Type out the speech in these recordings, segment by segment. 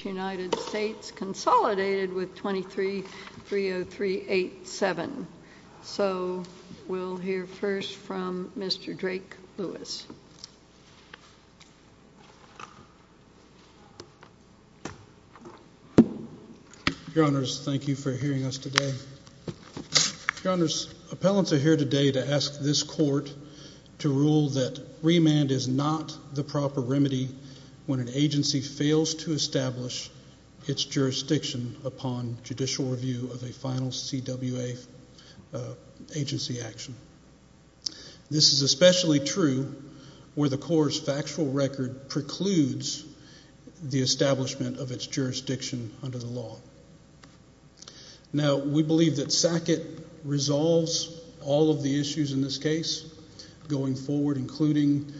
Consolidated with 23-30387. So we'll hear first from Mr. Drake Lewis. Your Honors, thank you for hearing us today. Your Honors, appellants are here today to ask this court to rule that remand is not the proper remedy when an agency fails to establish its jurisdiction upon judicial review of a final CWA agency action. This is especially true where the court's factual record precludes the establishment of its jurisdiction under the law. Now we believe that SACIT resolves all of the issues in this case going forward, including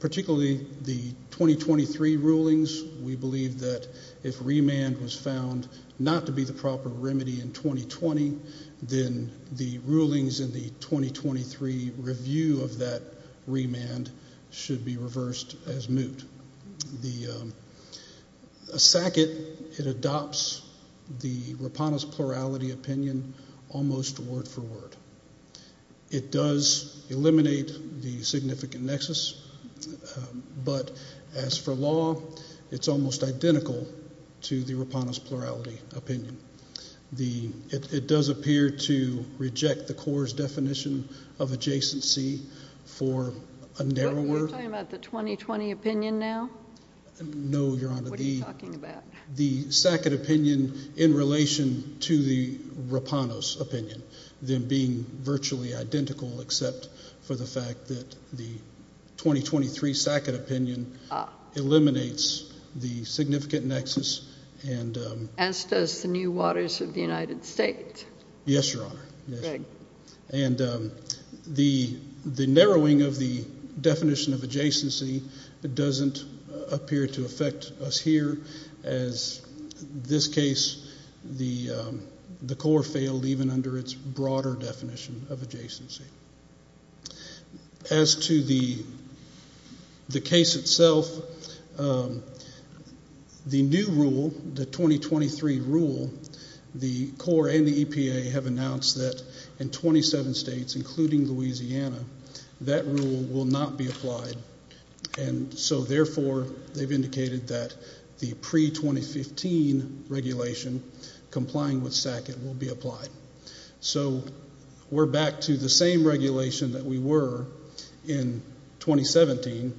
particularly the 2023 rulings. We believe that if remand was found not to be the proper remedy in 2020, then the rulings in the 2023 review of that remand should be reversed as moot. The SACIT, it adopts the Rupanis plurality opinion almost word for word. It does eliminate the significant nexus, but as for law, it's almost identical to the Rupanis plurality opinion. It does appear to reject the court's definition of adjacency for a narrow word. Are you talking about the 2020 opinion now? No, Your Honor. What are you talking about? The SACIT opinion in relation to the Rupanis opinion, them being virtually identical except for the fact that the 2023 SACIT opinion eliminates the significant nexus. As does the New Waters of the United States. Yes, Your Honor. And the narrowing of the definition of adjacency doesn't appear to affect us here. As this case, the court failed even under its broader definition of adjacency. As to the case itself, the new rule, the 2023 rule, the Corps and the EPA have announced that in 27 states, including Louisiana, that rule will not be applied. And so, therefore, they've indicated that the pre-2015 regulation complying with SACIT will be applied. So we're back to the same regulation that we were in 2017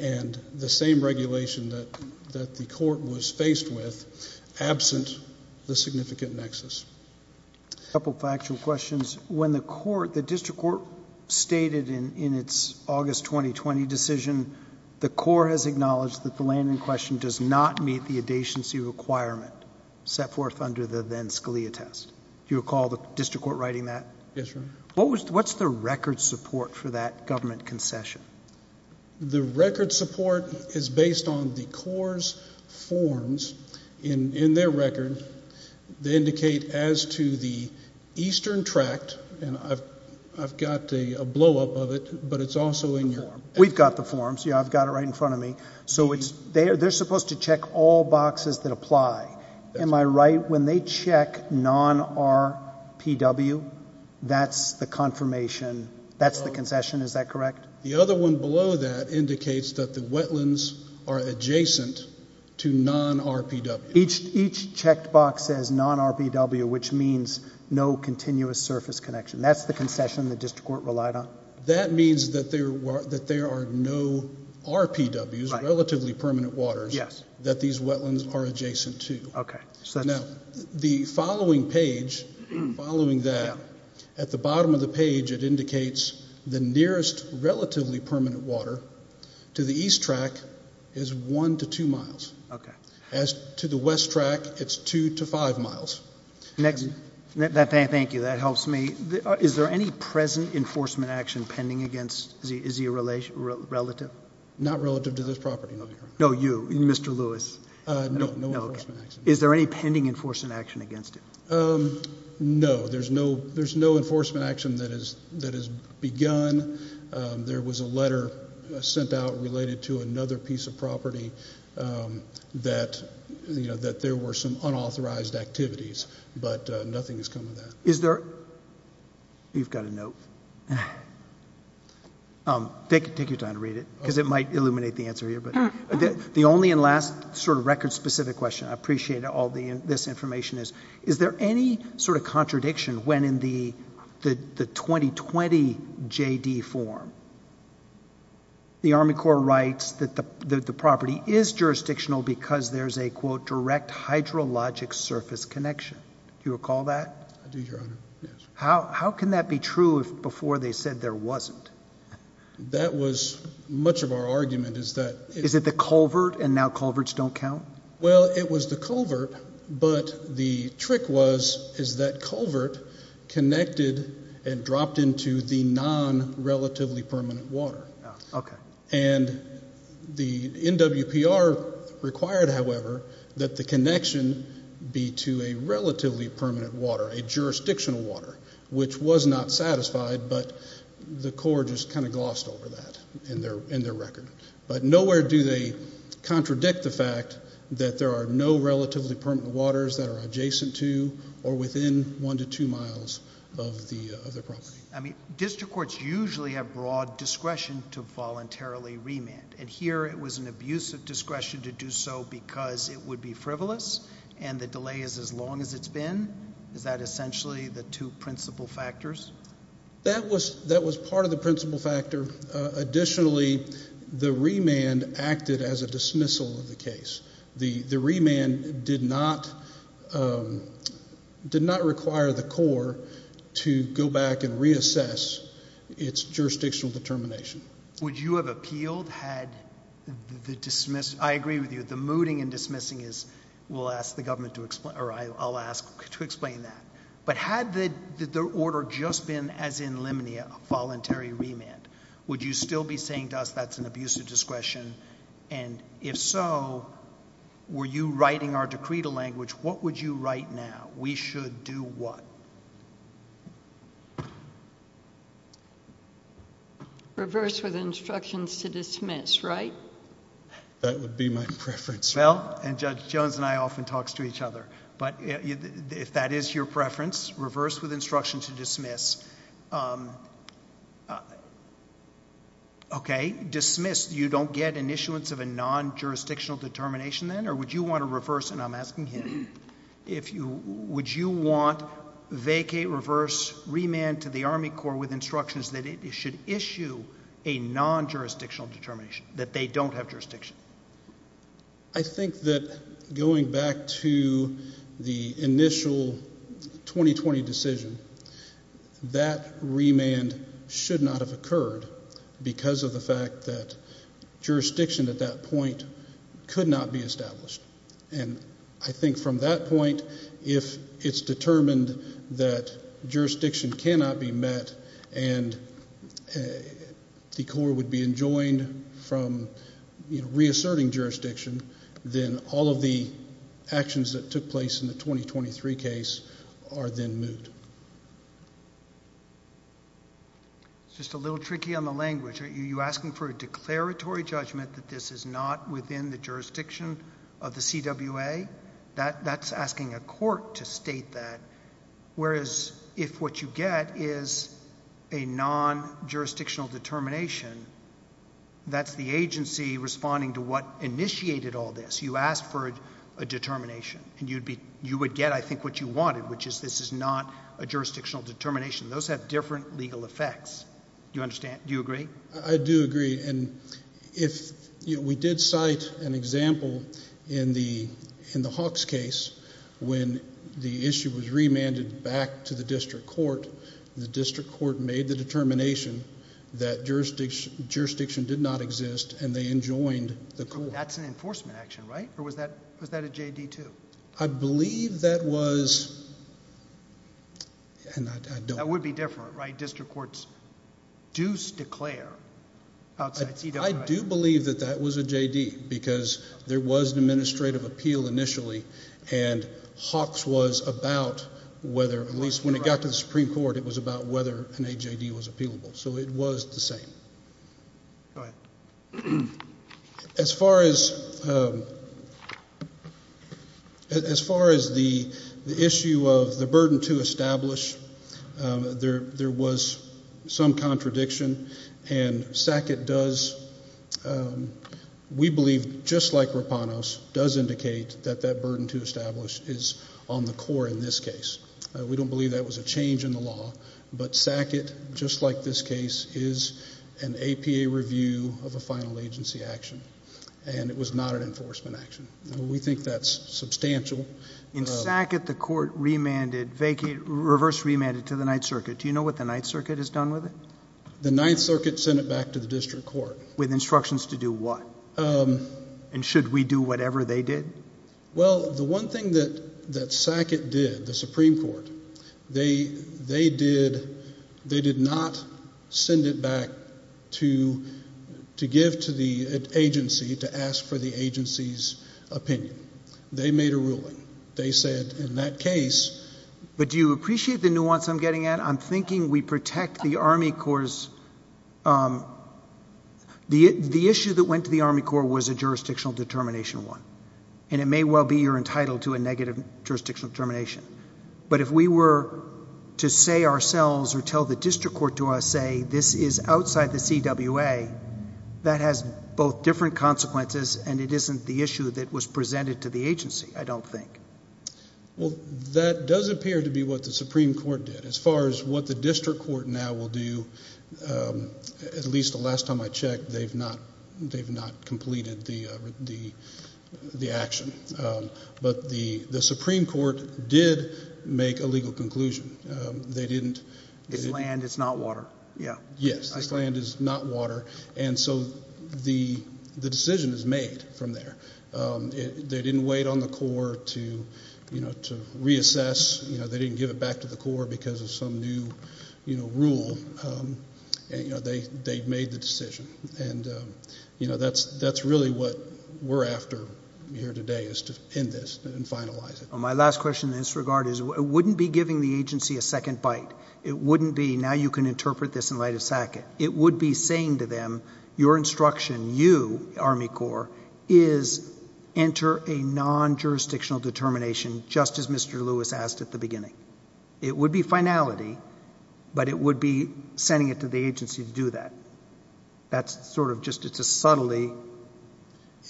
and the same regulation that the court was faced with absent the significant nexus. A couple of factual questions. When the court, the district court stated in its August 2020 decision, the Corps has acknowledged that the land in question does not meet the adjacency requirement set forth under the then Scalia test. Do you recall the district court writing that? Yes, Your Honor. What's the record support for that government concession? The record support is based on the Corps' forms in their record. They indicate as to the eastern tract, and I've got a blowup of it, but it's also in your form. We've got the forms. Yeah, I've got it right in front of me. So they're supposed to check all boxes that apply. Am I right? When they check non-RPW, that's the confirmation, that's the concession, is that correct? The other one below that indicates that the wetlands are adjacent to non-RPW. Each checked box says non-RPW, which means no continuous surface connection. That's the concession the district court relied on? That means that there are no RPWs, relatively permanent waters, that these wetlands are adjacent to. Okay. Now, the following page, following that, at the bottom of the page it indicates the nearest relatively permanent water to the east tract is one to two miles. Okay. As to the west tract, it's two to five miles. Thank you. That helps me. Is there any present enforcement action pending against, is he a relative? Not relative to this property. No, you, Mr. Lewis. No enforcement action. Is there any pending enforcement action against him? No, there's no enforcement action that has begun. There was a letter sent out related to another piece of property that there were some unauthorized activities, but nothing has come of that. Is there, you've got a note. Take your time to read it, because it might illuminate the answer here. The only and last sort of record specific question, I appreciate all this information is, is there any sort of contradiction when in the 2020 JD form, the Army Corps writes that the property is jurisdictional because there's a, quote, direct hydrologic surface connection. Do you recall that? I do, Your Honor. Yes. How can that be true if before they said there wasn't? That was much of our argument is that. Is it the culvert and now culverts don't count? Well, it was the culvert, but the trick was is that culvert connected and dropped into the non-relatively permanent water. Okay. And the NWPR required, however, that the connection be to a relatively permanent water, a jurisdictional water, which was not satisfied, but the Corps just kind of glossed over that in their record. But nowhere do they contradict the fact that there are no relatively permanent waters that are adjacent to or within one to two miles of the property. I mean, district courts usually have broad discretion to voluntarily remand, and here it was an abuse of discretion to do so because it would be frivolous and the delay is as long as it's been? Is that essentially the two principal factors? That was part of the principal factor. Additionally, the remand acted as a dismissal of the case. The remand did not require the Corps to go back and reassess its jurisdictional determination. Would you have appealed had the dismissal? I agree with you. The mooting and dismissing is we'll ask the government to explain, or I'll ask to explain that. But had the order just been as in Lemony a voluntary remand, would you still be saying to us that's an abuse of discretion? And if so, were you writing our decree to language, what would you write now? We should do what? Reverse with instructions to dismiss, right? That would be my preference. Well, and Judge Jones and I often talk to each other. But if that is your preference, reverse with instructions to dismiss. Okay. Dismiss. You don't get an issuance of a non-jurisdictional determination then? Or would you want to reverse? And I'm asking him. Would you want vacate, reverse, remand to the Army Corps with instructions that it should issue a non-jurisdictional determination, that they don't have jurisdiction? I think that going back to the initial 2020 decision, that remand should not have occurred because of the fact that jurisdiction at that point could not be established. And I think from that point, if it's determined that jurisdiction cannot be met and the Corps would be enjoined from reasserting jurisdiction, then all of the actions that took place in the 2023 case are then moved. It's just a little tricky on the language. Are you asking for a declaratory judgment that this is not within the jurisdiction of the CWA? That's asking a court to state that. Whereas if what you get is a non-jurisdictional determination, that's the agency responding to what initiated all this. You asked for a determination, and you would get, I think, what you wanted, which is this is not a jurisdictional determination. Those have different legal effects. Do you understand? Do you agree? I do agree. And we did cite an example in the Hawks case when the issue was remanded back to the district court. The district court made the determination that jurisdiction did not exist, and they enjoined the court. That's an enforcement action, right? Or was that a J.D. too? I believe that was... That would be different, right? District courts do declare outside CWI. I do believe that that was a J.D. because there was an administrative appeal initially, and Hawks was about whether, at least when it got to the Supreme Court, it was about whether an A.J.D. was appealable. So it was the same. Go ahead. As far as the issue of the burden to establish, there was some contradiction. And SACIT does, we believe, just like Rapanos, does indicate that that burden to establish is on the core in this case. We don't believe that was a change in the law. But SACIT, just like this case, is an APA review of a final agency action, and it was not an enforcement action. We think that's substantial. In SACIT, the court remanded, reverse remanded to the Ninth Circuit. Do you know what the Ninth Circuit has done with it? The Ninth Circuit sent it back to the district court. With instructions to do what? And should we do whatever they did? Well, the one thing that SACIT did, the Supreme Court, they did not send it back to give to the agency to ask for the agency's opinion. They made a ruling. They said in that case— But do you appreciate the nuance I'm getting at? I'm thinking we protect the Army Corps'—the issue that went to the Army Corps was a jurisdictional determination one, and it may well be you're entitled to a negative jurisdictional determination. But if we were to say ourselves or tell the district court to say this is outside the CWA, that has both different consequences and it isn't the issue that was presented to the agency, I don't think. Well, that does appear to be what the Supreme Court did. As far as what the district court now will do, at least the last time I checked, they've not completed the action. But the Supreme Court did make a legal conclusion. They didn't— It's land, it's not water. Yes, this land is not water, and so the decision is made from there. They didn't wait on the Corps to reassess. They didn't give it back to the Corps because of some new rule. They made the decision. And that's really what we're after here today is to end this and finalize it. My last question in this regard is it wouldn't be giving the agency a second bite. It wouldn't be, now you can interpret this in light of SACIT. It would be saying to them, your instruction, you, Army Corps, is enter a non-jurisdictional determination, just as Mr. Lewis asked at the beginning. It would be finality, but it would be sending it to the agency to do that. That's sort of just—it's a subtlety.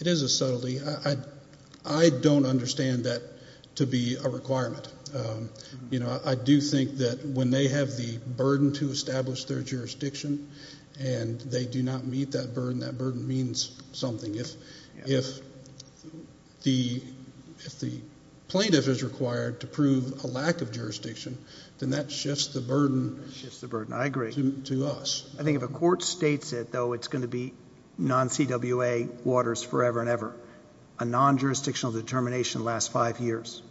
It is a subtlety. I don't understand that to be a requirement. I do think that when they have the burden to establish their jurisdiction and they do not meet that burden, that burden means something. If the plaintiff is required to prove a lack of jurisdiction, then that shifts the burden to us. I agree. I think if a court states it, though, it's going to be non-CWA waters forever and ever. A non-jurisdictional determination lasts five years,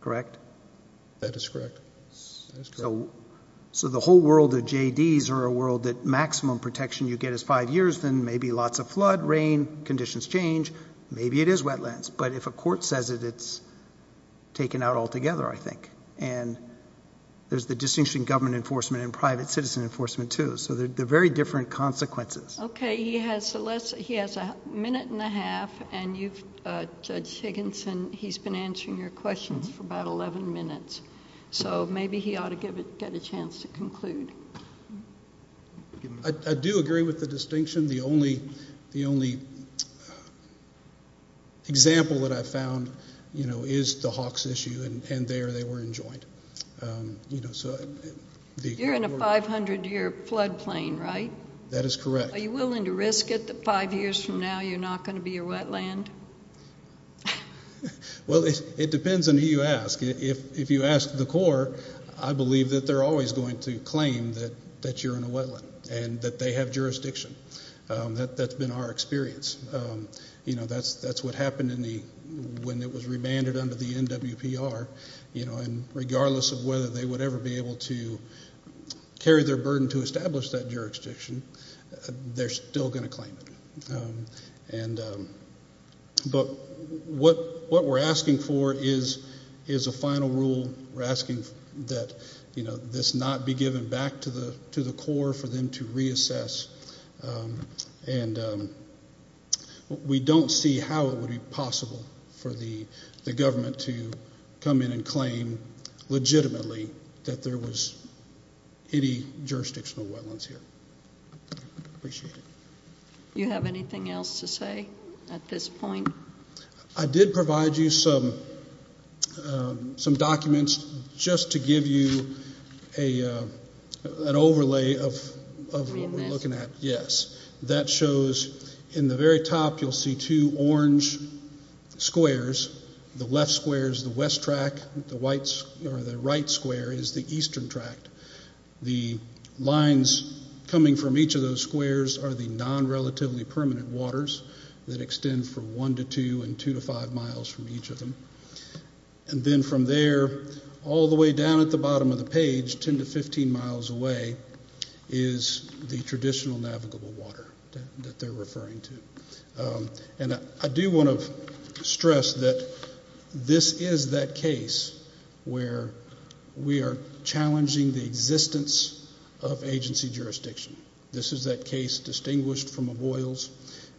correct? That is correct. So the whole world of JDs or a world that maximum protection you get is five years, then maybe lots of flood, rain, conditions change, maybe it is wetlands. But if a court says it, it's taken out altogether, I think. And there's the distinction between government enforcement and private citizen enforcement, too. So they're very different consequences. Okay. He has a minute and a half, and Judge Higginson, he's been answering your questions for about 11 minutes. So maybe he ought to get a chance to conclude. I do agree with the distinction. The only example that I've found is the Hawks issue, and there they were enjoined. You're in a 500-year flood plain, right? That is correct. Are you willing to risk it that five years from now you're not going to be a wetland? Well, it depends on who you ask. If you ask the Corps, I believe that they're always going to claim that you're in a wetland and that they have jurisdiction. That's been our experience. You know, that's what happened when it was remanded under the NWPR. And regardless of whether they would ever be able to carry their burden to establish that jurisdiction, they're still going to claim it. But what we're asking for is a final rule. We're asking that this not be given back to the Corps for them to reassess. And we don't see how it would be possible for the government to come in and claim legitimately that there was any jurisdictional wetlands here. Appreciate it. Do you have anything else to say at this point? I did provide you some documents just to give you an overlay of what we're looking at. Yes. That shows in the very top you'll see two orange squares. The left square is the west tract. The right square is the eastern tract. The lines coming from each of those squares are the non-relatively permanent waters that extend from one to two and two to five miles from each of them. And then from there all the way down at the bottom of the page, 10 to 15 miles away, is the traditional navigable water that they're referring to. And I do want to stress that this is that case where we are challenging the existence of agency jurisdiction. This is that case distinguished from a Boyle's,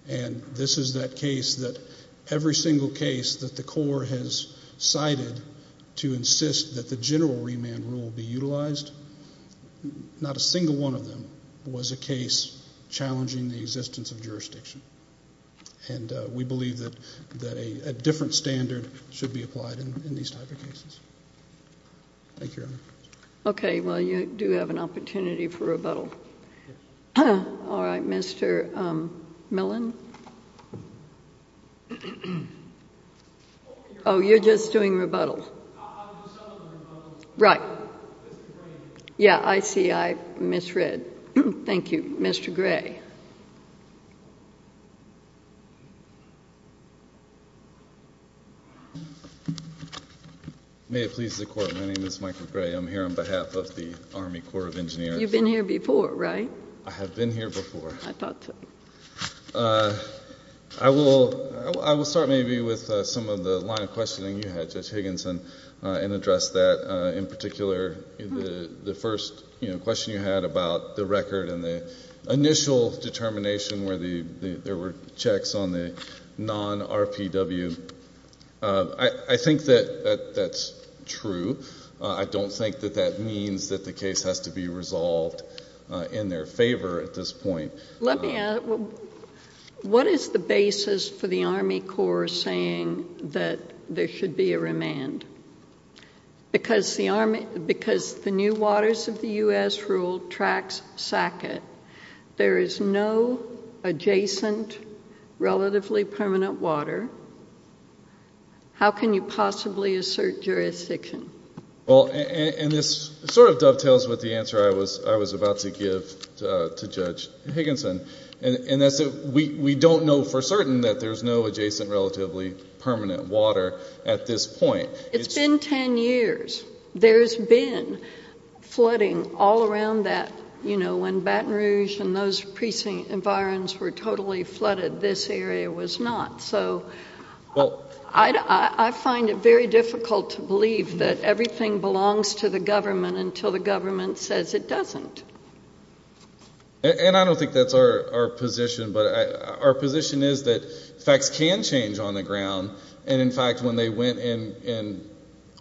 and this is that case that every single case that the Corps has cited to insist that the general remand rule be utilized, not a single one of them was a case challenging the existence of jurisdiction. And we believe that a different standard should be applied in these type of cases. Thank you, Your Honor. Okay. Well, you do have an opportunity for rebuttal. All right. Mr. Millen? Oh, you're just doing rebuttal. Right. Yeah, I see. I misread. Thank you. Mr. Gray. May it please the Court. My name is Michael Gray. I'm here on behalf of the Army Corps of Engineers. You've been here before, right? I have been here before. I thought so. I will start maybe with some of the line of questioning you had, Judge Higginson, and address that in particular, the first question you had about the record and the initial determination where there were checks on the non-RPW. I think that that's true. I don't think that that means that the case has to be resolved in their favor at this point. Let me ask, what is the basis for the Army Corps saying that there should be a remand? Because the new waters of the U.S. rule tracks SACCET, there is no adjacent relatively permanent water. How can you possibly assert jurisdiction? And this sort of dovetails with the answer I was about to give to Judge Higginson, and we don't know for certain that there's no adjacent relatively permanent water at this point. It's been 10 years. There's been flooding all around that. When Baton Rouge and those precinct environs were totally flooded, this area was not. So I find it very difficult to believe that everything belongs to the government until the government says it doesn't. And I don't think that's our position, but our position is that facts can change on the ground. And, in fact, when they went in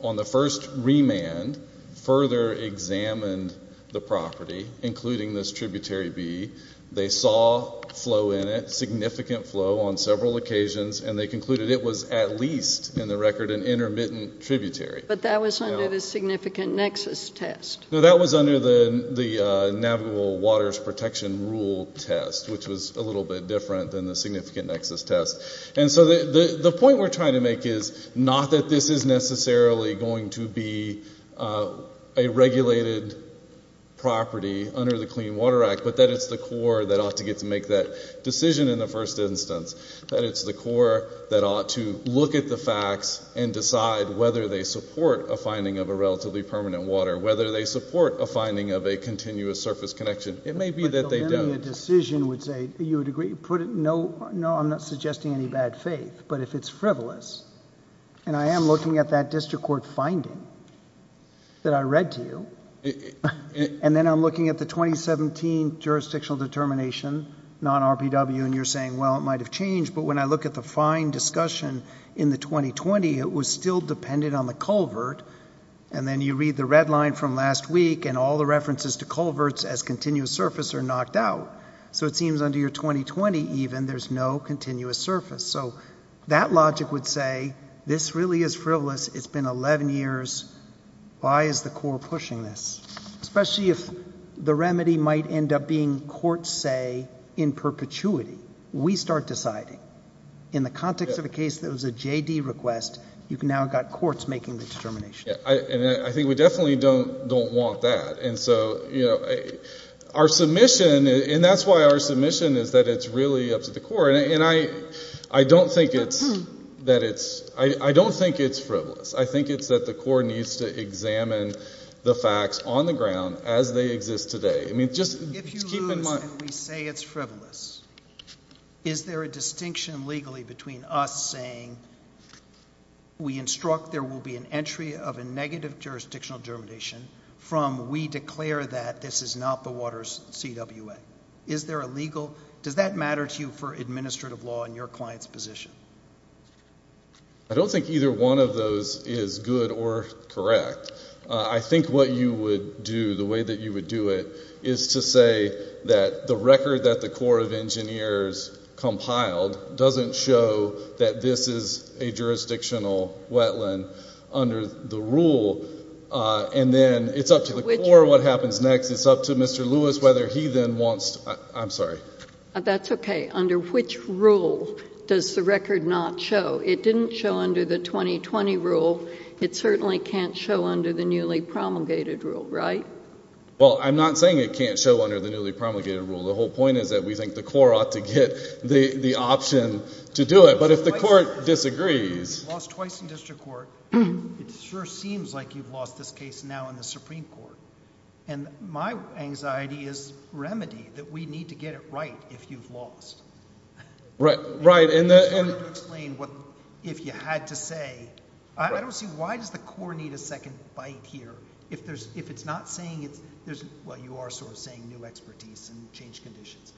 on the first remand, further examined the property, including this tributary B, they saw flow in it, significant flow on several occasions, and they concluded it was at least, in the record, an intermittent tributary. But that was under the significant nexus test. No, that was under the Navigable Waters Protection Rule test, which was a little bit different than the significant nexus test. And so the point we're trying to make is not that this is necessarily going to be a regulated property under the Clean Water Act, but that it's the Corps that ought to get to make that decision in the first instance, that it's the Corps that ought to look at the facts and decide whether they support a finding of a relatively permanent water, whether they support a finding of a continuous surface connection. It may be that they don't. But then a decision would say, you would agree, put it, no, I'm not suggesting any bad faith, but if it's frivolous, and I am looking at that district court finding that I read to you, and then I'm looking at the 2017 jurisdictional determination, non-RPW, and you're saying, well, it might have changed, but when I look at the fine discussion in the 2020, it was still dependent on the culvert, and then you read the red line from last week, and all the references to culverts as continuous surface are knocked out. So it seems under your 2020, even, there's no continuous surface. So that logic would say this really is frivolous. It's been 11 years. Why is the Corps pushing this, especially if the remedy might end up being, courts say, in perpetuity? We start deciding. In the context of a case that was a JD request, you've now got courts making the determination. I think we definitely don't want that. And so our submission, and that's why our submission is that it's really up to the Corps, and I don't think it's frivolous. I think it's that the Corps needs to examine the facts on the ground as they exist today. If you lose and we say it's frivolous, is there a distinction legally between us saying we instruct there will be an entry of a negative jurisdictional germination from we declare that this is not the Waters CWA? Is there a legal? Does that matter to you for administrative law in your client's position? I don't think either one of those is good or correct. I think what you would do, the way that you would do it, is to say that the record that the Corps of Engineers compiled doesn't show that this is a jurisdictional wetland under the rule, and then it's up to the Corps what happens next. It's up to Mr. Lewis whether he then wants to, I'm sorry. That's okay. Under which rule does the record not show? It didn't show under the 2020 rule. It certainly can't show under the newly promulgated rule, right? Well, I'm not saying it can't show under the newly promulgated rule. The whole point is that we think the Corps ought to get the option to do it. But if the Court disagrees. You've lost twice in district court. It sure seems like you've lost this case now in the Supreme Court. And my anxiety is remedy, that we need to get it right if you've lost. Right. If you had to say, I don't see why does the Corps need a second bite here? If it's not saying, well, you are sort of saying new expertise and change conditions.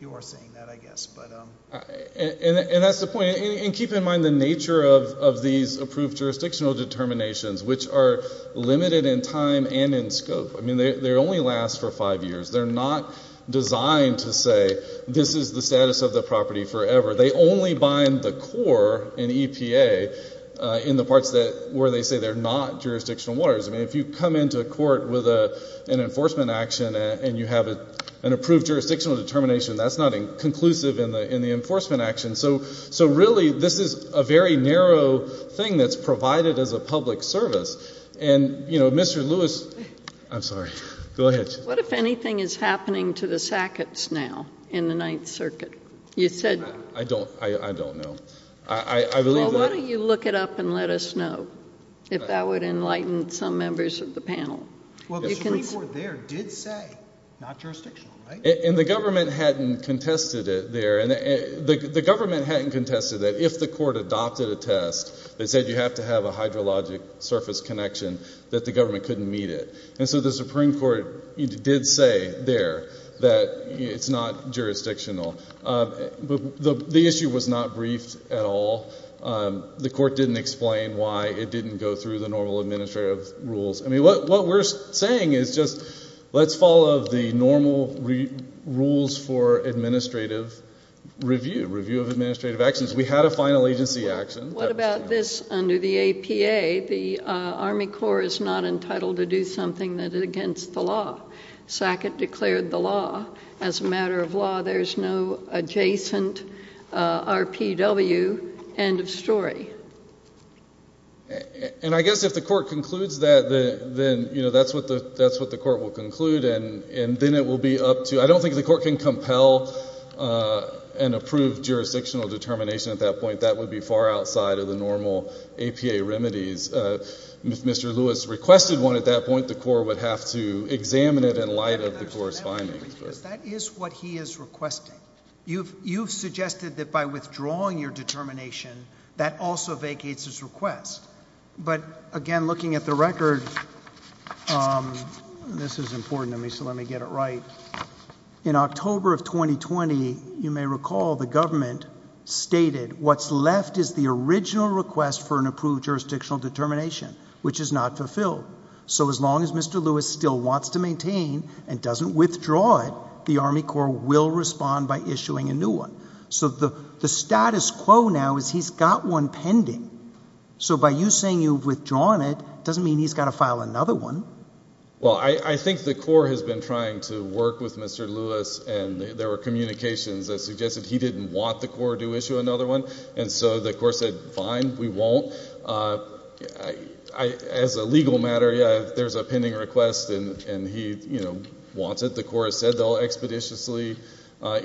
You are saying that, I guess. And that's the point. And keep in mind the nature of these approved jurisdictional determinations, which are limited in time and in scope. I mean, they only last for five years. They're not designed to say this is the status of the property forever. They only bind the Corps and EPA in the parts where they say they're not jurisdictional waters. I mean, if you come into a court with an enforcement action and you have an approved jurisdictional determination, that's not conclusive in the enforcement action. So, really, this is a very narrow thing that's provided as a public service. And, you know, Mr. Lewis. I'm sorry. Go ahead. Mr. Lewis, what if anything is happening to the Sacketts now in the Ninth Circuit? You said that. I don't know. I believe that. Well, why don't you look it up and let us know if that would enlighten some members of the panel. Well, the Supreme Court there did say not jurisdictional, right? And the government hadn't contested it there. The government hadn't contested that. If the court adopted a test that said you have to have a hydrologic surface connection, that the government couldn't meet it. And so the Supreme Court did say there that it's not jurisdictional. But the issue was not briefed at all. The court didn't explain why it didn't go through the normal administrative rules. I mean, what we're saying is just let's follow the normal rules for administrative review, review of administrative actions. We had a final agency action. What about this under the APA? The Army Corps is not entitled to do something that is against the law. Sackett declared the law. As a matter of law, there is no adjacent RPW. End of story. And I guess if the court concludes that, then, you know, that's what the court will conclude. And then it will be up to you. I don't think the court can compel an approved jurisdictional determination at that point. That would be far outside of the normal APA remedies. If Mr. Lewis requested one at that point, the court would have to examine it in light of the court's findings. That is what he is requesting. You've suggested that by withdrawing your determination, that also vacates his request. But, again, looking at the record, this is important to me, so let me get it right. In October of 2020, you may recall the government stated, what's left is the original request for an approved jurisdictional determination, which is not fulfilled. So as long as Mr. Lewis still wants to maintain and doesn't withdraw it, the Army Corps will respond by issuing a new one. So the status quo now is he's got one pending. So by you saying you've withdrawn it doesn't mean he's got to file another one. Well, I think the Corps has been trying to work with Mr. Lewis, and there were communications that suggested he didn't want the Corps to issue another one. And so the Corps said, fine, we won't. As a legal matter, yeah, if there's a pending request and he wants it, the Corps has said they'll expeditiously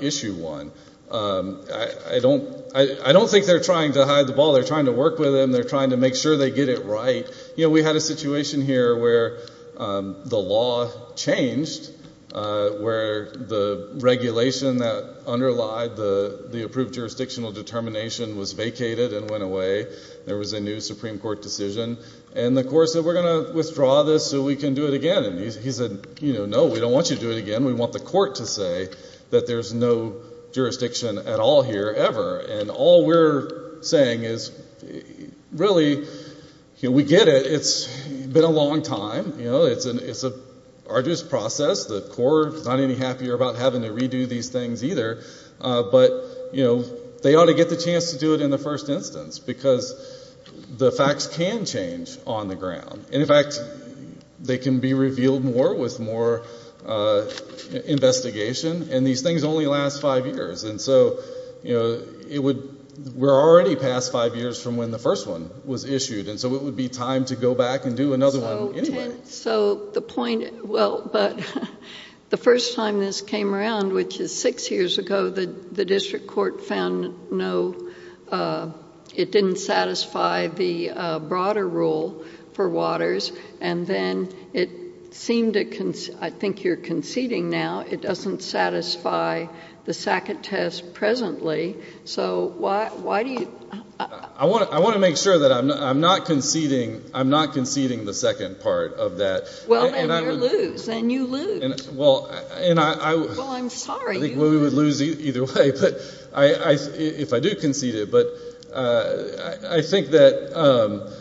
issue one. I don't think they're trying to hide the ball. They're trying to work with him. They're trying to make sure they get it right. We had a situation here where the law changed, where the regulation that underlied the approved jurisdictional determination was vacated and went away. There was a new Supreme Court decision. And the Corps said, we're going to withdraw this so we can do it again. And he said, no, we don't want you to do it again. We want the court to say that there's no jurisdiction at all here ever. And all we're saying is, really, we get it. It's been a long time. It's an arduous process. The Corps is not any happier about having to redo these things either. But they ought to get the chance to do it in the first instance because the facts can change on the ground. And, in fact, they can be revealed more with more investigation. And these things only last five years. And so we're already past five years from when the first one was issued. And so it would be time to go back and do another one anyway. So the point – well, but the first time this came around, which is six years ago, the district court found no – it didn't satisfy the broader rule for waters. And then it seemed to – I think you're conceding now. It doesn't satisfy the Sackett test presently. So why do you – I want to make sure that I'm not conceding the second part of that. Well, then you lose. Then you lose. Well, and I – Well, I'm sorry. I think we would lose either way if I do concede it. But I think that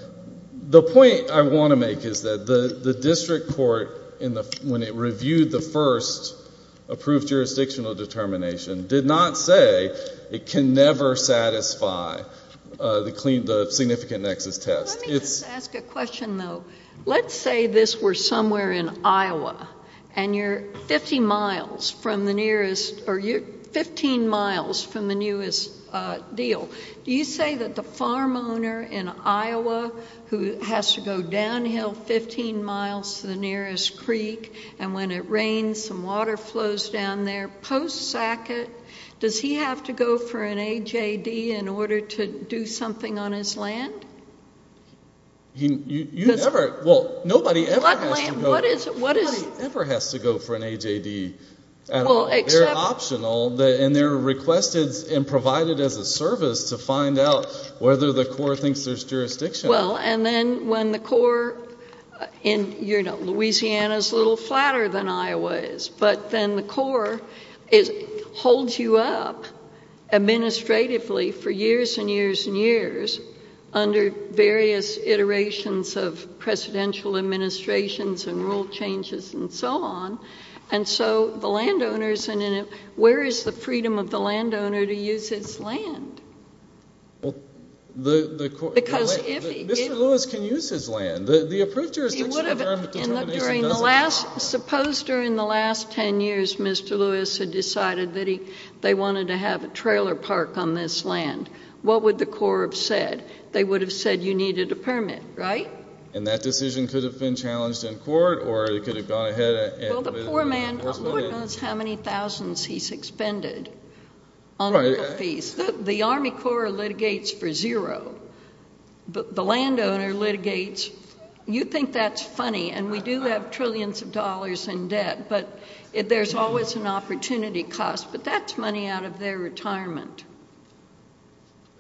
the point I want to make is that the district court, when it reviewed the first approved jurisdictional determination, did not say it can never satisfy the significant nexus test. Let me just ask a question, though. Let's say this were somewhere in Iowa and you're 50 miles from the nearest – or you're 15 miles from the newest deal. Do you say that the farm owner in Iowa who has to go downhill 15 miles to the nearest creek and when it rains some water flows down there post Sackett, does he have to go for an AJD in order to do something on his land? You never – well, nobody ever has to go – What is – Nobody ever has to go for an AJD at all. Well, except – They're optional and they're requested and provided as a service to find out whether the Corps thinks there's jurisdiction. Well, and then when the Corps in – you know, Louisiana's a little flatter than Iowa is, but then the Corps holds you up administratively for years and years and years under various iterations of presidential administrations and rule changes and so on. And so the landowners – where is the freedom of the landowner to use his land? Well, the – Because if he – Mr. Lewis can use his land. The approved jurisdiction of the farm determination doesn't – He would have – and look, during the last – suppose during the last 10 years Mr. Lewis had decided that he – they wanted to have a trailer park on this land. What would the Corps have said? They would have said you needed a permit, right? And that decision could have been challenged in court or it could have gone ahead and – Well, the poor man – Lord knows how many thousands he's expended on the fees. The Army Corps litigates for zero. The landowner litigates – you think that's funny and we do have trillions of dollars in debt, but there's always an opportunity cost, but that's money out of their retirement.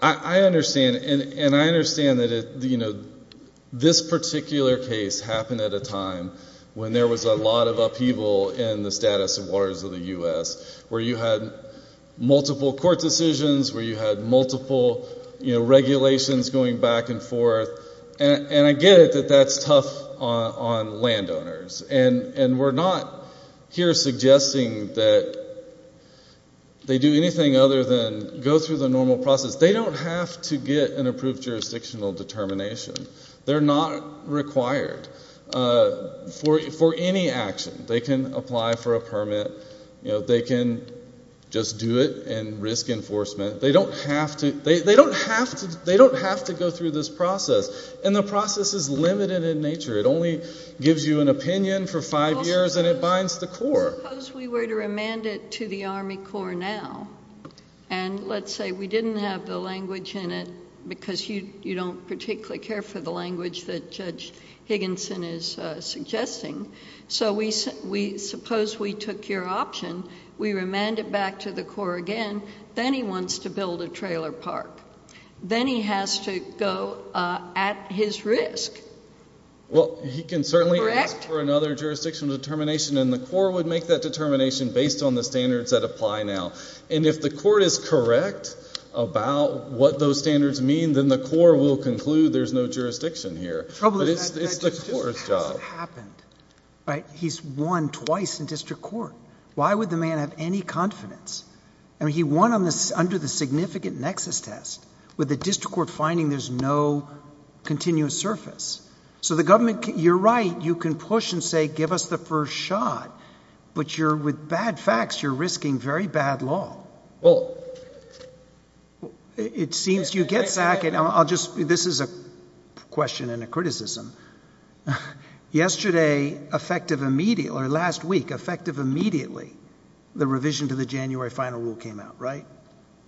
I understand and I understand that this particular case happened at a time when there was a lot of upheaval in the status of waters of the U.S. where you had multiple court decisions, where you had multiple regulations going back and forth, and I get it that that's tough on landowners. And we're not here suggesting that they do anything other than go through the normal process. They don't have to get an approved jurisdictional determination. They're not required for any action. They can apply for a permit. They can just do it and risk enforcement. They don't have to – they don't have to go through this process, and the process is limited in nature. It only gives you an opinion for five years and it binds the Corps. Suppose we were to remand it to the Army Corps now, and let's say we didn't have the language in it because you don't particularly care for the language that Judge Higginson is suggesting. So suppose we took your option. We remand it back to the Corps again. Then he wants to build a trailer park. Then he has to go at his risk. Correct? Well, he can certainly ask for another jurisdictional determination, and the Corps would make that determination based on the standards that apply now. And if the Court is correct about what those standards mean, then the Corps will conclude there's no jurisdiction here. But it's the Corps' job. The trouble is that that just hasn't happened. He's won twice in district court. Why would the man have any confidence? I mean, he won under the significant nexus test with the district court finding there's no continuous surface. So the government, you're right. You can push and say give us the first shot, but with bad facts you're risking very bad law. It seems you get Sackett. This is a question and a criticism. Yesterday, effective immediately, or last week, effective immediately, the revision to the January final rule came out, right?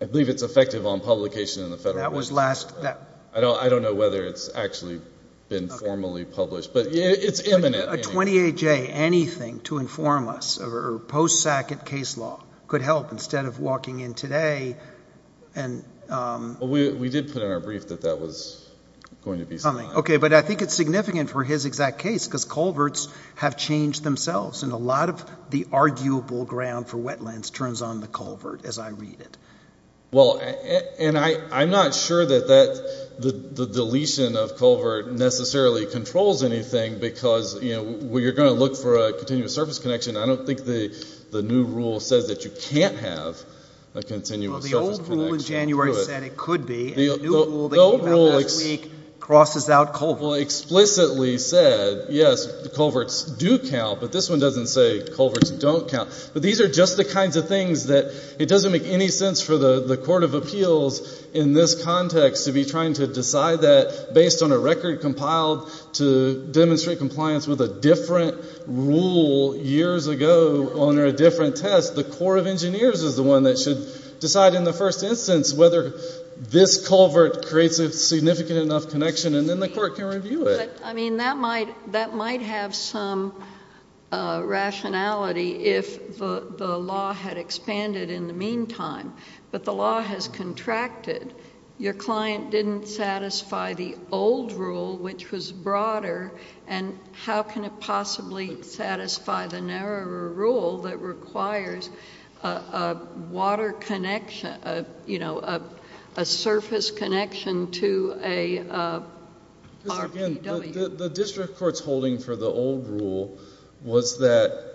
I believe it's effective on publication in the Federal Register. I don't know whether it's actually been formally published, but it's imminent. A 28-J, anything to inform us, or post-Sackett case law could help instead of walking in today. We did put in our brief that that was going to be something. Okay, but I think it's significant for his exact case because culverts have changed themselves, and a lot of the arguable ground for wetlands turns on the culvert as I read it. Well, and I'm not sure that the deletion of culvert necessarily controls anything because you're going to look for a continuous surface connection. I don't think the new rule says that you can't have a continuous surface connection. Well, the old rule in January said it could be, and the new rule that came out last week crosses out culverts. The old rule explicitly said, yes, culverts do count, but this one doesn't say culverts don't count. But these are just the kinds of things that it doesn't make any sense for the Court of Appeals in this context to be trying to decide that based on a record compiled to demonstrate compliance with a different rule years ago under a different test. The Court of Engineers is the one that should decide in the first instance whether this culvert creates a significant enough connection, and then the Court can review it. But, I mean, that might have some rationality if the law had expanded in the meantime, but the law has contracted. Your client didn't satisfy the old rule, which was broader, and how can it possibly satisfy the narrower rule that requires a water connection, a surface connection to a RPW? The district court's holding for the old rule was that,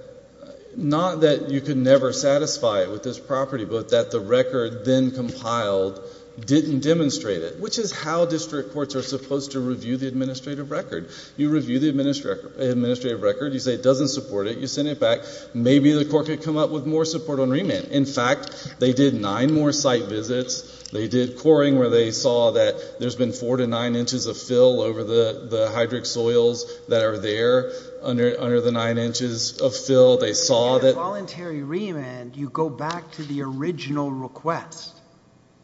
not that you could never satisfy it with this property, but that the record then compiled didn't demonstrate it, which is how district courts are supposed to review the administrative record. You review the administrative record. You say it doesn't support it. You send it back. Maybe the court could come up with more support on remand. In fact, they did nine more site visits. They did coring where they saw that there's been four to nine inches of fill over the hydric soils that are there under the nine inches of fill. They saw that— Voluntary remand, you go back to the original request,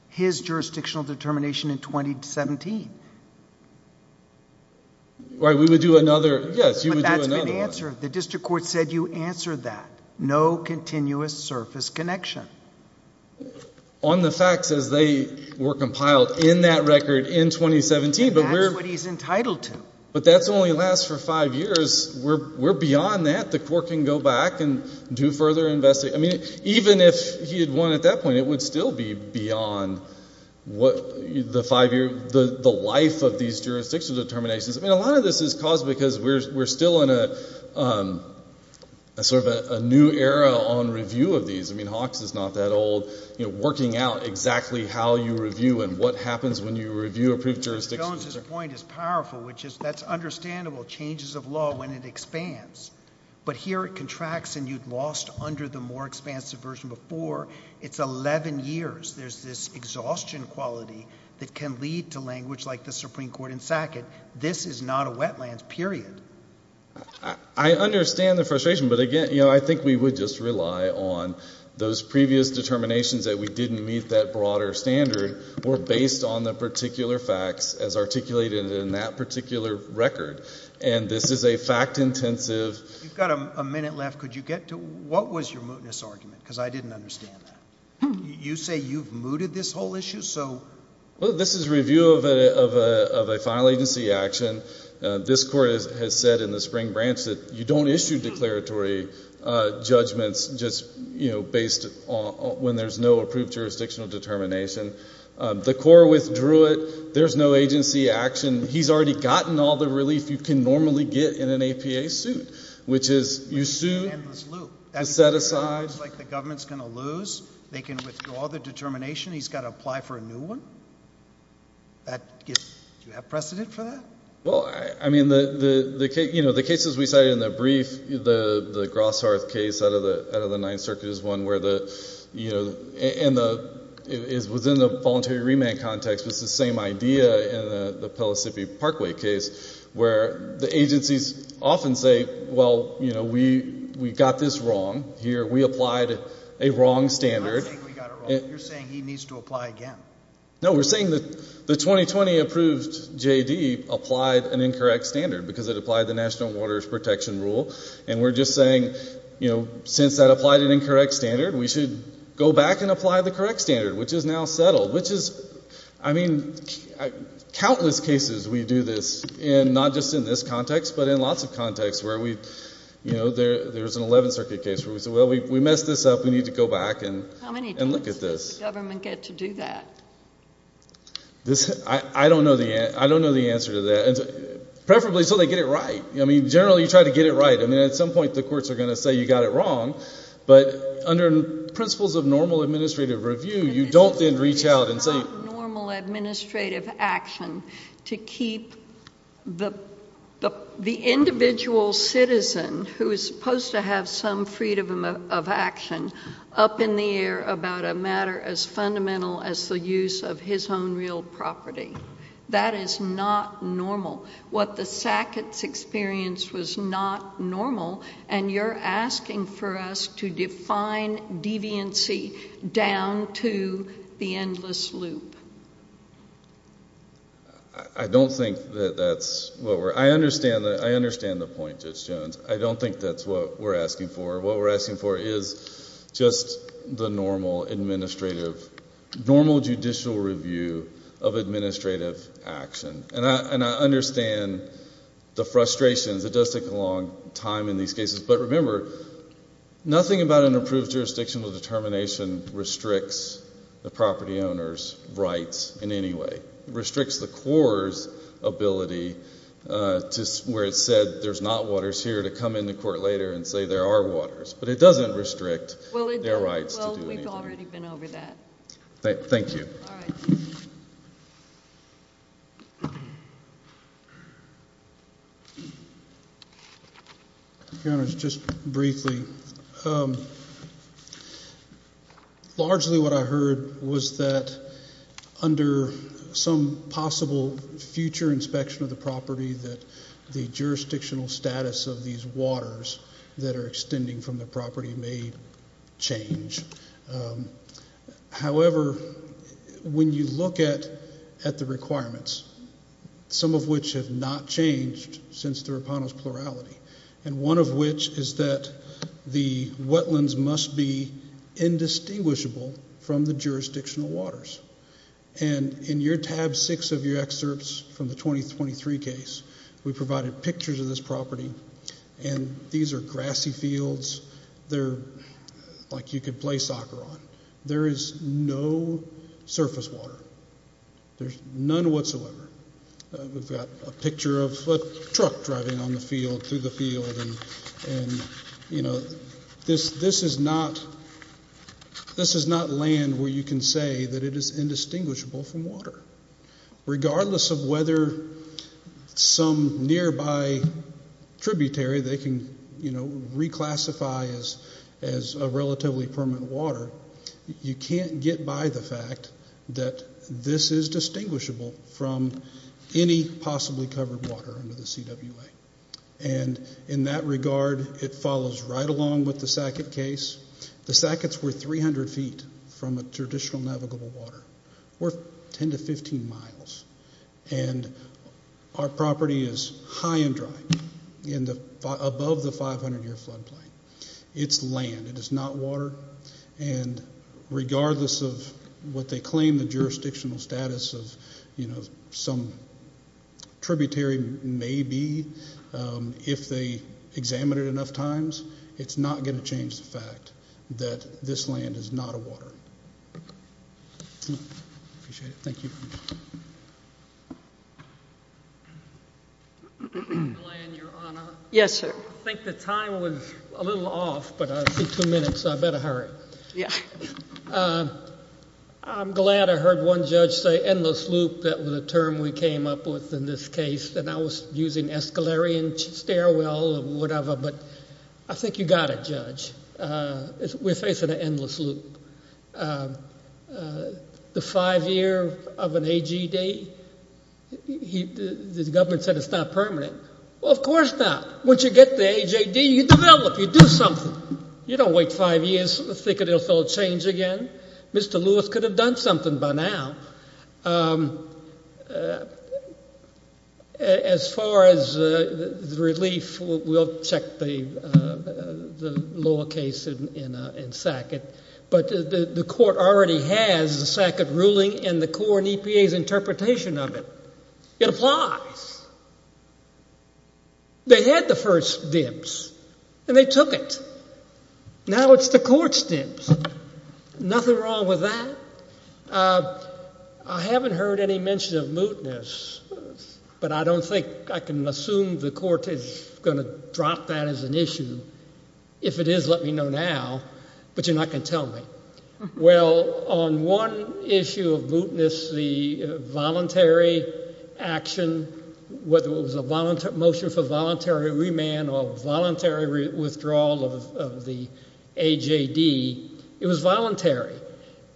his jurisdictional determination in 2017. Right, we would do another—yes, you would do another one. But that's been answered. The district court said you answered that. No continuous surface connection. On the facts as they were compiled in that record in 2017, but we're— And that's what he's entitled to. But that only lasts for five years. We're beyond that. The court can go back and do further investigation. I mean, even if he had won at that point, it would still be beyond the five-year, the life of these jurisdictional determinations. I mean, a lot of this is caused because we're still in a sort of a new era on review of these. I mean, Hawks is not that old, you know, working out exactly how you review and what happens when you review approved jurisdictions. Jones's point is powerful, which is that's understandable. Changes of law when it expands. But here it contracts and you've lost under the more expansive version before. It's 11 years. There's this exhaustion quality that can lead to language like the Supreme Court in Sackett. This is not a wetlands, period. I understand the frustration. But, again, you know, I think we would just rely on those previous determinations that we didn't meet that broader standard were based on the particular facts as articulated in that particular record. And this is a fact-intensive— You've got a minute left. Could you get to what was your mootness argument? Because I didn't understand that. You say you've mooted this whole issue, so— Well, this is review of a final agency action. This court has said in the spring branch that you don't issue declaratory judgments just, you know, based on when there's no approved jurisdictional determination. The court withdrew it. There's no agency action. He's already gotten all the relief you can normally get in an APA suit, which is you sue. Endless loop. The set-asides. It looks like the government's going to lose. They can withdraw the determination. He's got to apply for a new one? Do you have precedent for that? Well, I mean, you know, the cases we cited in the brief, the Grosshearth case out of the Ninth Circuit is one where the— and it's within the voluntary remand context, it's the same idea in the Pellissippi Parkway case where the agencies often say, well, you know, we got this wrong here. We applied a wrong standard. You're not saying we got it wrong. You're saying he needs to apply again. No, we're saying that the 2020 approved J.D. applied an incorrect standard because it applied the National Waters Protection Rule, and we're just saying, you know, since that applied an incorrect standard, we should go back and apply the correct standard, which is now settled, which is— I mean, countless cases we do this in, not just in this context, but in lots of contexts where we've, you know, there's an Eleventh Circuit case where we say, well, we messed this up. We need to go back and look at this. How many times does the government get to do that? I don't know the answer to that, preferably until they get it right. I mean, generally you try to get it right. I mean, at some point the courts are going to say you got it wrong, but under principles of normal administrative review, you don't then reach out and say— It's not normal administrative action to keep the individual citizen who is supposed to have some freedom of action up in the air about a matter as fundamental as the use of his own real property. That is not normal. What the Sacketts experienced was not normal, and you're asking for us to define deviancy down to the endless loop. I don't think that that's what we're— I understand the point, Judge Jones. I don't think that's what we're asking for. What we're asking for is just the normal administrative— normal judicial review of administrative action. And I understand the frustrations. It does take a long time in these cases. But remember, nothing about an approved jurisdictional determination restricts the property owner's rights in any way. It restricts the court's ability where it said there's not waters here to come into court later and say there are waters. But it doesn't restrict their rights to do anything. Well, we've already been over that. Thank you. All right. Your Honors, just briefly, largely what I heard was that under some possible future inspection of the property that the jurisdictional status of these waters that are extending from the property may change. However, when you look at the requirements, some of which have not changed since the Rapano's plurality, and one of which is that the wetlands must be indistinguishable from the jurisdictional waters. And in your tab six of your excerpts from the 2023 case, we provided pictures of this property, and these are grassy fields. They're like you could play soccer on. There is no surface water. There's none whatsoever. We've got a picture of a truck driving on the field, through the field. And, you know, this is not land where you can say that it is indistinguishable from water. Regardless of whether some nearby tributary they can, you know, reclassify as a relatively permanent water, you can't get by the fact that this is distinguishable from any possibly covered water under the CWA. And in that regard, it follows right along with the Sackett case. The Sacketts were 300 feet from a traditional navigable water. We're 10 to 15 miles. And our property is high and dry above the 500-year flood plain. It's land. It is not water. And regardless of what they claim the jurisdictional status of, you know, some tributary may be, if they examine it enough times, it's not going to change the fact that this land is not a water. Appreciate it. Thank you. Yes, sir. I think the time was a little off, but I see two minutes, so I better hurry. I'm glad I heard one judge say endless loop. That was a term we came up with in this case. And I was using escalarian stairwell or whatever, but I think you got it, Judge. We're facing an endless loop. The five-year of an AG date, the government said it's not permanent. Well, of course not. Once you get the AJD, you develop. You do something. You don't wait five years and think it will change again. Mr. Lewis could have done something by now. As far as the relief, we'll check the lower case in Sackett. But the court already has the Sackett ruling in the court and EPA's interpretation of it. It applies. They had the first dibs, and they took it. Now it's the court's dibs. Nothing wrong with that. I haven't heard any mention of mootness, but I don't think I can assume the court is going to drop that as an issue. If it is, let me know now, but you're not going to tell me. Well, on one issue of mootness, the voluntary action, whether it was a motion for voluntary remand or voluntary withdrawal of the AJD, it was voluntary.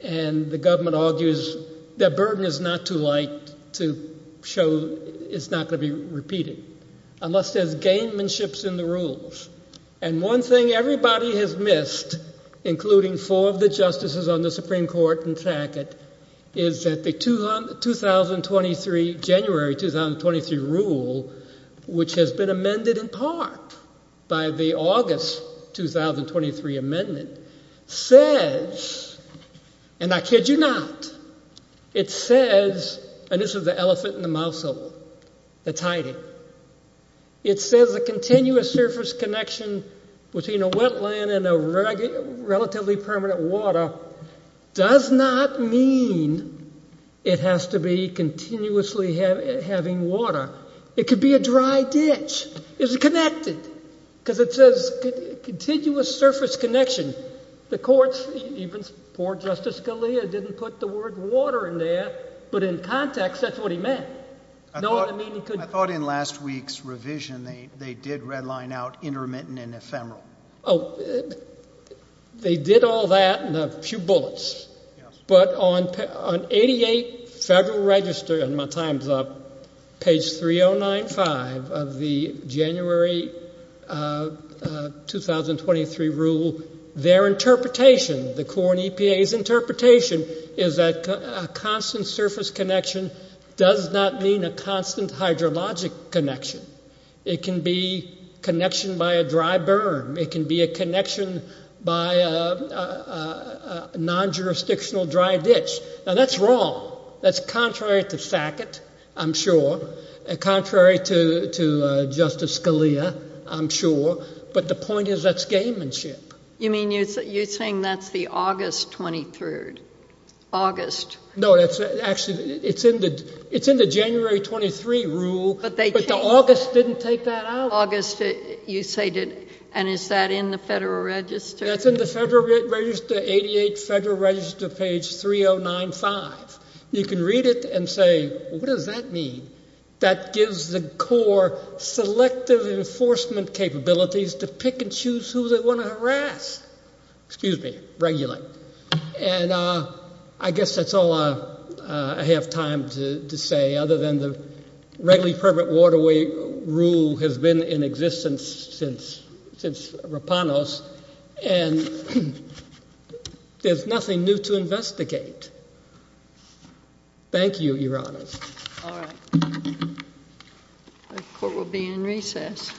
And the government argues their burden is not too light to show it's not going to be repeated unless there's game-manships in the rules. And one thing everybody has missed, including four of the justices on the Supreme Court in Sackett, is that the January 2023 rule, which has been amended in part by the August 2023 amendment, says, and I kid you not, it says, and this is the elephant in the mouse hole that's hiding, it says a continuous surface connection between a wetland and a relatively permanent water does not mean it has to be continuously having water. It could be a dry ditch. It's connected, because it says continuous surface connection. The courts, even poor Justice Scalia didn't put the word water in there, but in context, that's what he meant. I thought in last week's revision they did redline out intermittent and ephemeral. Oh, they did all that in a few bullets, but on 88 Federal Register, and my time's up, page 3095 of the January 2023 rule, their interpretation, the Court and EPA's interpretation is that a constant surface connection does not mean a constant hydrologic connection. It can be connection by a dry burn. It can be a connection by a non-jurisdictional dry ditch. Now, that's wrong. That's contrary to Sackett, I'm sure. Contrary to Justice Scalia, I'm sure. But the point is that's gamemanship. You mean you're saying that's the August 23rd? August. No, actually, it's in the January 23 rule, but the August didn't take that out. August, you say, and is that in the Federal Register? That's in the Federal Register, 88 Federal Register, page 3095. You can read it and say, what does that mean? That gives the court selective enforcement capabilities to pick and choose who they want to harass. Excuse me, regulate. And I guess that's all I have time to say, other than the regularly permanent waterway rule has been in existence since Rapanos, and there's nothing new to investigate. Thank you, Your Honors. All right. The court will be in recess.